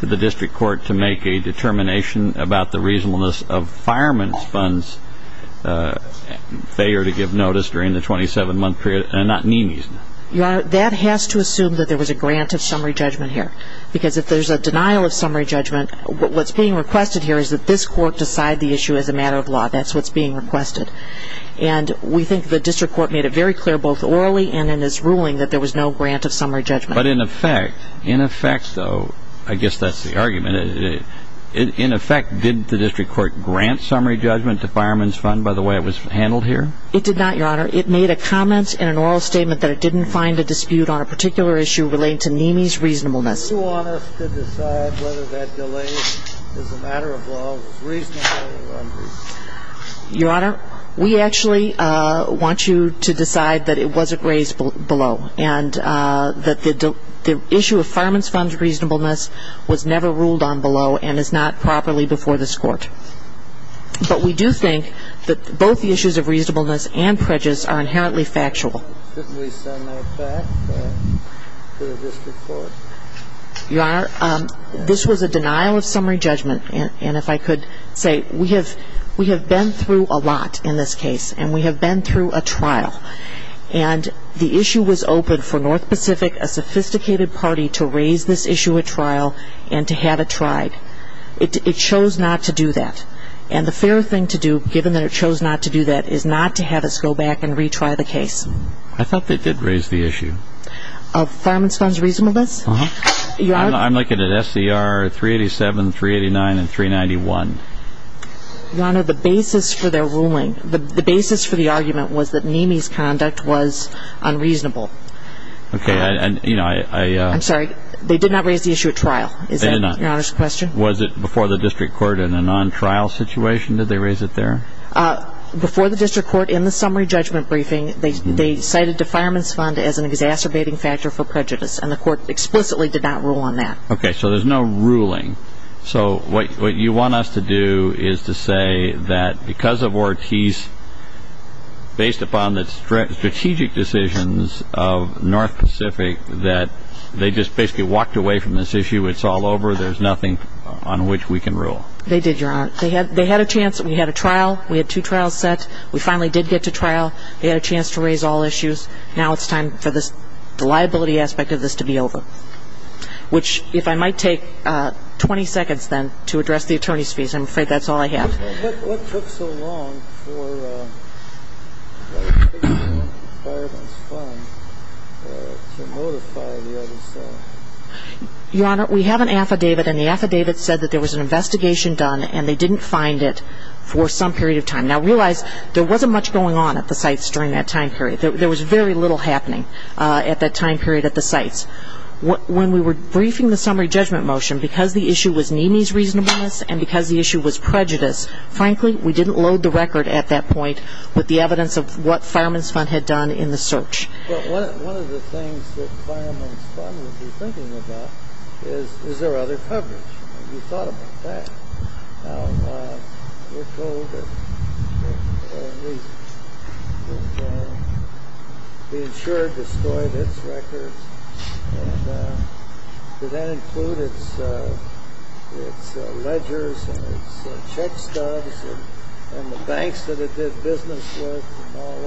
to the district court to make a determination about the reasonableness of Fireman's Fund's failure to give notice during the 27-month period and not Neamey's? Your Honor, that has to assume that there was a grant of summary judgment here. Because if there's a denial of summary judgment, what's being requested here is that this court decide the issue as a matter of law. That's what's being requested. And we think the district court made it very clear, both orally and in its ruling, that there was no grant of summary judgment. But in effect, in effect, though, I guess that's the argument, in effect, didn't the district court grant summary judgment to Fireman's Fund by the way it was handled here? It did not, Your Honor. It made a comment in an oral statement that it didn't find a dispute on a particular issue relating to Neamey's reasonableness. Do you want us to decide whether that delay as a matter of law was reasonable or unreasonable? Your Honor, we actually want you to decide that it wasn't raised below and that the issue of Fireman's Fund's reasonableness was never ruled on below and is not properly before this court. But we do think that both the issues of reasonableness and prejudice are inherently factual. Couldn't we send that back to the district court? Your Honor, this was a denial of summary judgment. And if I could say, we have been through a lot in this case, and we have been through a trial. And the issue was open for North Pacific, a sophisticated party, to raise this issue at trial and to have it tried. It chose not to do that. And the fair thing to do, given that it chose not to do that, is not to have us go back and retry the case. I thought they did raise the issue. Of Fireman's Fund's reasonableness? Uh-huh. I'm looking at SCR 387, 389, and 391. Your Honor, the basis for their ruling, the basis for the argument was that Neamey's conduct was unreasonable. Okay. I'm sorry. They did not raise the issue at trial. Is that Your Honor's question? Was it before the district court in a non-trial situation did they raise it there? Before the district court in the summary judgment briefing, they cited the Fireman's Fund as an exacerbating factor for prejudice, and the court explicitly did not rule on that. Okay. So there's no ruling. So what you want us to do is to say that because of Ortiz, based upon the strategic decisions of North Pacific, that they just basically walked away from this issue. It's all over. There's nothing on which we can rule. They did, Your Honor. They had a chance. We had a trial. We had two trials set. We finally did get to trial. They had a chance to raise all issues. Now it's time for the liability aspect of this to be over, which if I might take 20 seconds then to address the attorney's fees. I'm afraid that's all I have. What took so long for the Fireman's Fund to notify the other side? Your Honor, we have an affidavit, and the affidavit said that there was an investigation done and they didn't find it for some period of time. Now realize there wasn't much going on at the sites during that time period. There was very little happening at that time period at the sites. When we were briefing the summary judgment motion, because the issue was Nene's reasonableness and because the issue was prejudice, frankly, we didn't load the record at that point with the evidence of what Fireman's Fund had done in the search. One of the things that Fireman's Fund would be thinking about is, is there other coverage? Have you thought about that? We're told that the insurer destroyed its records. Did that include its ledgers and its check stubs and the banks that it did business with and all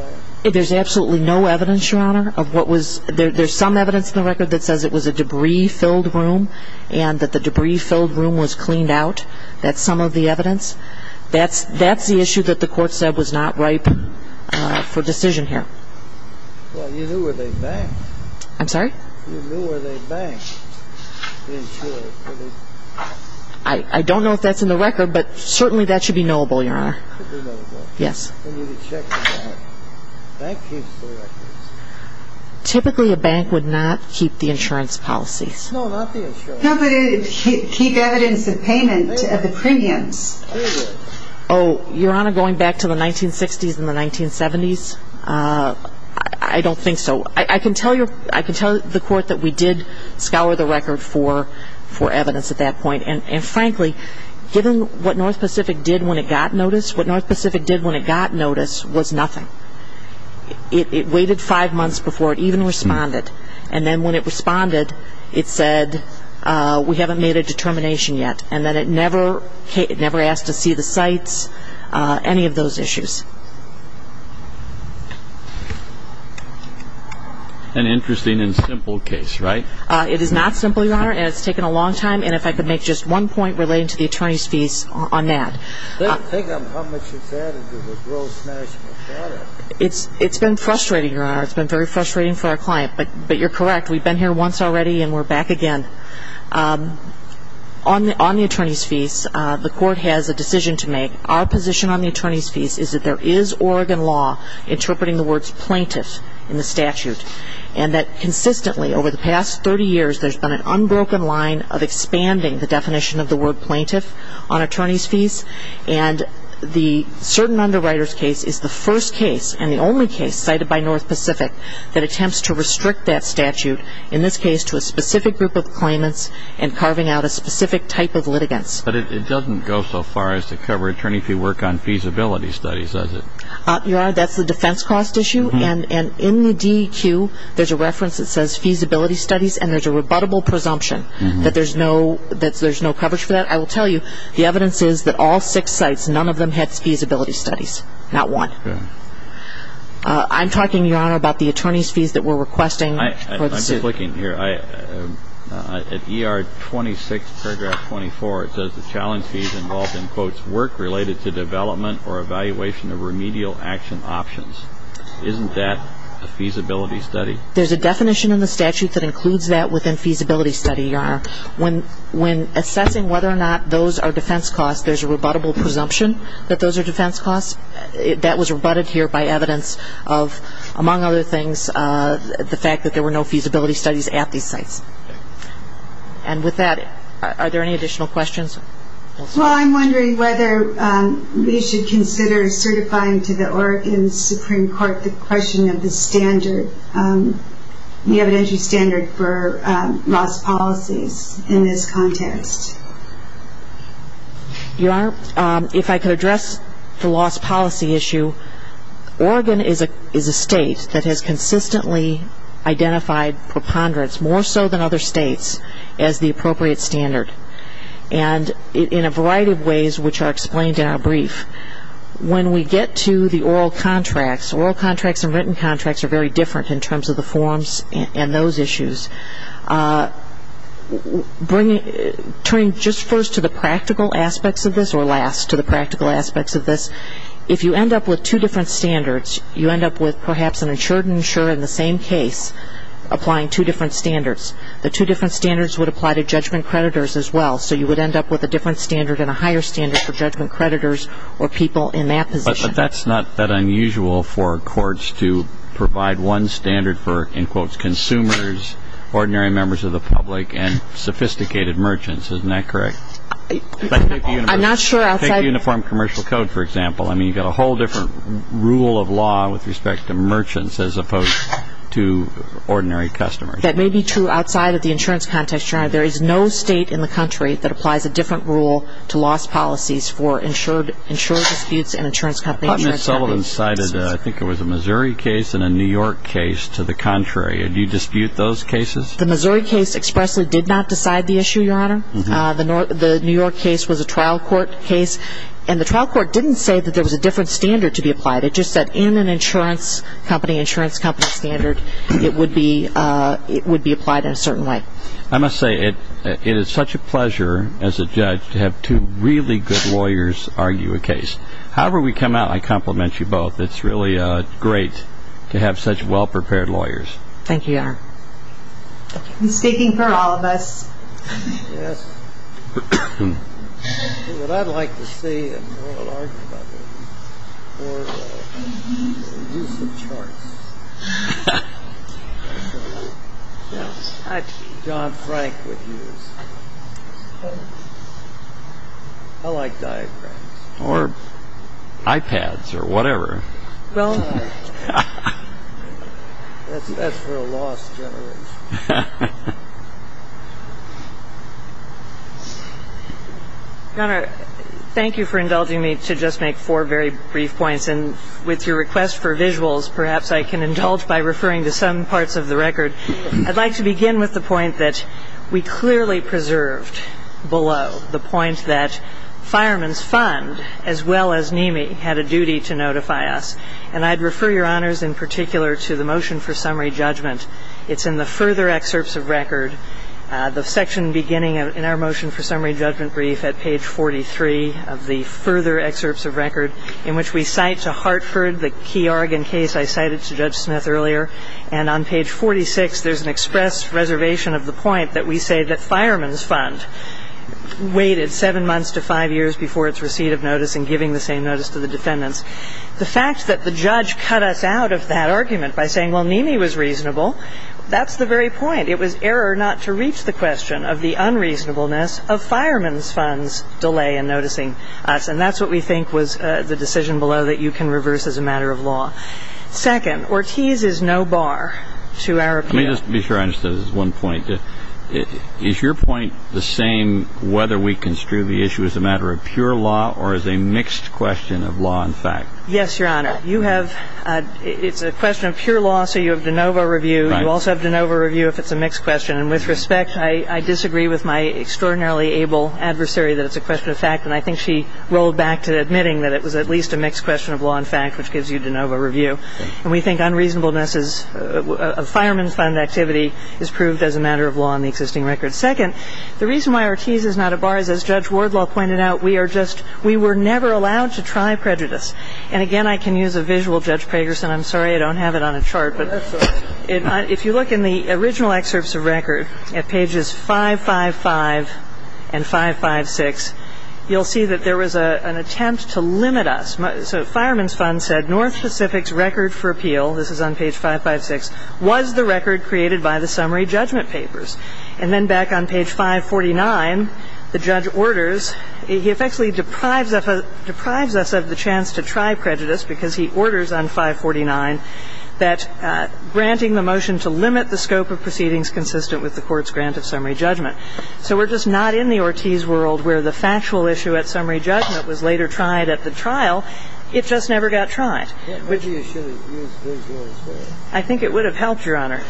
that? There's absolutely no evidence, Your Honor. There's some evidence in the record that says it was a debris-filled room and that the debris-filled room was cleaned out. That's some of the evidence. That's the issue that the court said was not ripe for decision here. Well, you knew where they banked. I'm sorry? You knew where they banked the insurer. I don't know if that's in the record, but certainly that should be knowable, Your Honor. It should be knowable. Yes. And you could check the bank. Bank keeps the records. Typically a bank would not keep the insurance policies. No, not the insurance. No, but it would keep evidence of payment of the premiums. Oh, Your Honor, going back to the 1960s and the 1970s, I don't think so. I can tell the court that we did scour the record for evidence at that point, and frankly, given what North Pacific did when it got notice, what North Pacific did when it got notice was nothing. It waited five months before it even responded, and then when it responded, it said, we haven't made a determination yet, and then it never asked to see the sites, any of those issues. An interesting and simple case, right? It is not simple, Your Honor, and it's taken a long time, and if I could make just one point relating to the attorney's fees on that. Think of how much it's added to the gross national product. It's been frustrating, Your Honor. It's been very frustrating for our client, but you're correct. We've been here once already, and we're back again. On the attorney's fees, the court has a decision to make. Our position on the attorney's fees is that there is Oregon law interpreting the words plaintiff in the statute, and that consistently over the past 30 years, there's been an unbroken line of expanding the definition of the word plaintiff on attorney's fees, and the certain underwriter's case is the first case and the only case cited by North Pacific that attempts to restrict that statute, in this case to a specific group of claimants and carving out a specific type of litigants. But it doesn't go so far as to cover attorney fee work on feasibility studies, does it? Your Honor, that's the defense cost issue, and in the DEQ there's a reference that says feasibility studies, and there's a rebuttable presumption that there's no coverage for that. I will tell you the evidence is that all six sites, none of them had feasibility studies, not one. I'm talking, Your Honor, about the attorney's fees that we're requesting. I'm just looking here. At ER 26, paragraph 24, it says the challenge fees involved in, quote, work related to development or evaluation of remedial action options. Isn't that a feasibility study? There's a definition in the statute that includes that within feasibility study, Your Honor. When assessing whether or not those are defense costs, there's a rebuttable presumption that those are defense costs. That was rebutted here by evidence of, among other things, the fact that there were no feasibility studies at these sites. And with that, are there any additional questions? Well, I'm wondering whether we should consider certifying to the Oregon Supreme Court the question of the standard, the evidentiary standard for loss policies in this context. Your Honor, if I could address the loss policy issue, Oregon is a state that has consistently identified preponderance, more so than other states, as the appropriate standard, and in a variety of ways which are explained in our brief. When we get to the oral contracts, oral contracts and written contracts are very different in terms of the forms and those issues. Turning just first to the practical aspects of this, or last to the practical aspects of this, if you end up with two different standards, you end up with perhaps an insurer in the same case applying two different standards. The two different standards would apply to judgment creditors as well, so you would end up with a different standard and a higher standard for judgment creditors or people in that position. But that's not that unusual for courts to provide one standard for, in quotes, consumers, ordinary members of the public, and sophisticated merchants. Isn't that correct? I'm not sure. Take the Uniform Commercial Code, for example. I mean, you've got a whole different rule of law with respect to merchants as opposed to ordinary customers. That may be true outside of the insurance context, Your Honor. There is no state in the country that applies a different rule to loss policies for insured disputes and insurance companies. Ms. Sullivan cited, I think it was a Missouri case and a New York case to the contrary. Do you dispute those cases? The Missouri case expressly did not decide the issue, Your Honor. The New York case was a trial court case, and the trial court didn't say that there was a different standard to be applied. It just said in an insurance company, insurance company standard, it would be applied in a certain way. I must say, it is such a pleasure, as a judge, to have two really good lawyers argue a case. However we come out, I compliment you both. It's really great to have such well-prepared lawyers. Thank you, Your Honor. Mistaking for all of us. Yes. What I'd like to say and what I'll argue about is for the use of charts. Yes. John Frank would use. I like diagrams. Or iPads or whatever. Well, that's for a lost generation. Your Honor, thank you for indulging me to just make four very brief points. And with your request for visuals, perhaps I can indulge by referring to some parts of the record. I'd like to begin with the point that we clearly preserved below, the point that Fireman's Fund, as well as NIMI, had a duty to notify us. And I'd refer, Your Honors, in particular to the motion for summary judgment. It's in the further excerpts of record, the section beginning in our motion for summary judgment brief at page 43 of the further excerpts of record in which we cite to Hartford the key Oregon case I cited to Judge Smith earlier. And on page 46, there's an express reservation of the point that we say that Fireman's Fund waited seven months to five years before its receipt of notice and giving the same notice to the defendants. The fact that the judge cut us out of that argument by saying, well, NIMI was reasonable, that's the very point. It was error not to reach the question of the unreasonableness of Fireman's Fund's delay in noticing us. And that's what we think was the decision below that you can reverse as a matter of law. Second, Ortiz is no bar to our appeal. Let me just be sure I understood this one point. Is your point the same whether we construe the issue as a matter of pure law or as a mixed question of law and fact? Yes, Your Honor. You have ‑‑ it's a question of pure law, so you have de novo review. You also have de novo review if it's a mixed question. And with respect, I disagree with my extraordinarily able adversary that it's a question of fact. And I think she rolled back to admitting that it was at least a mixed question of law and fact, which gives you de novo review. And we think unreasonableness of Fireman's Fund activity is proved as a matter of law in the existing record. Second, the reason why Ortiz is not a bar is, as Judge Wardlaw pointed out, we are just ‑‑ we were never allowed to try prejudice. And, again, I can use a visual, Judge Pragerson. I'm sorry I don't have it on a chart. But if you look in the original excerpts of record at pages 555 and 556, you'll see that there was an attempt to limit us. So Fireman's Fund said North Pacific's record for appeal, this is on page 556, was the record created by the summary judgment papers. And then back on page 549, the judge orders ‑‑ he effectively deprives us of the chance to try prejudice because he orders on 549 that granting the motion to limit the scope of proceedings consistent with the court's grant of summary judgment. So we're just not in the Ortiz world where the factual issue at summary judgment was later tried at the trial. It just never got tried. I think it would have helped, Your Honor.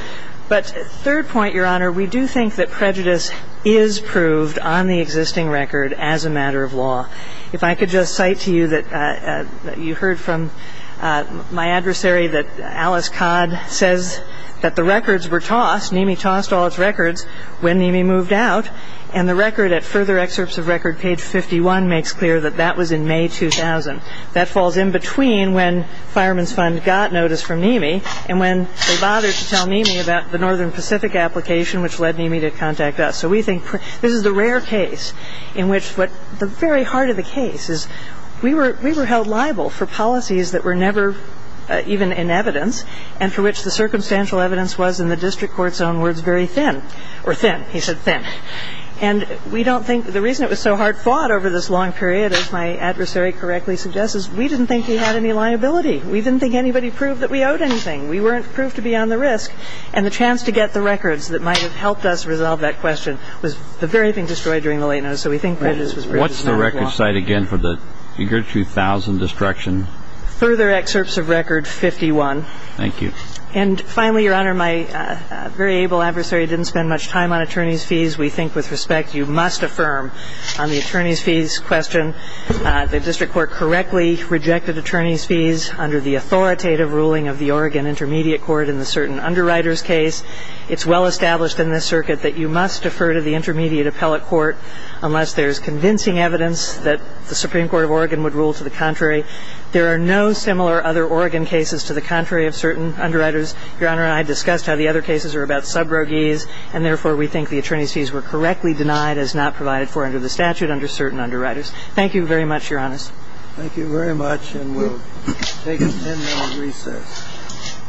But third point, Your Honor, we do think that prejudice is proved on the existing record as a matter of law. If I could just cite to you that you heard from my adversary that Alice Codd says that the records were tossed. NIMI tossed all its records when NIMI moved out. And the record at further excerpts of record, page 51, makes clear that that was in May 2000. That falls in between when Fireman's Fund got notice from NIMI and when they bothered to tell NIMI about the Northern Pacific application which led NIMI to contact us. So we think this is the rare case in which the very heart of the case is we were held liable for policies that were never even in evidence and for which the circumstantial evidence was in the district court's own words very thin. Or thin, he said thin. And we don't think ‑‑ the reason it was so hard fought over this long period, as my adversary correctly suggests, is we didn't think we had any liability. We didn't think anybody proved that we owed anything. We weren't proved to be on the risk. And the chance to get the records that might have helped us resolve that question was the very thing destroyed during the late notice. So we think prejudice was ‑‑ What's the record cite again for the figure 2000 destruction? Further excerpts of record 51. Thank you. And finally, Your Honor, my very able adversary didn't spend much time on attorneys' fees. We think with respect you must affirm on the attorneys' fees question The district court correctly rejected attorneys' fees under the authoritative ruling of the Oregon intermediate court in the certain underwriters case. It's well established in this circuit that you must defer to the intermediate appellate court unless there's convincing evidence that the Supreme Court of Oregon would rule to the contrary. There are no similar other Oregon cases to the contrary of certain underwriters. Your Honor, I discussed how the other cases are about subrogies, and therefore we think the attorneys' fees were correctly denied as not provided for under the statute under certain underwriters. Thank you very much, Your Honor. Thank you very much. And we'll take a 10‑minute recess.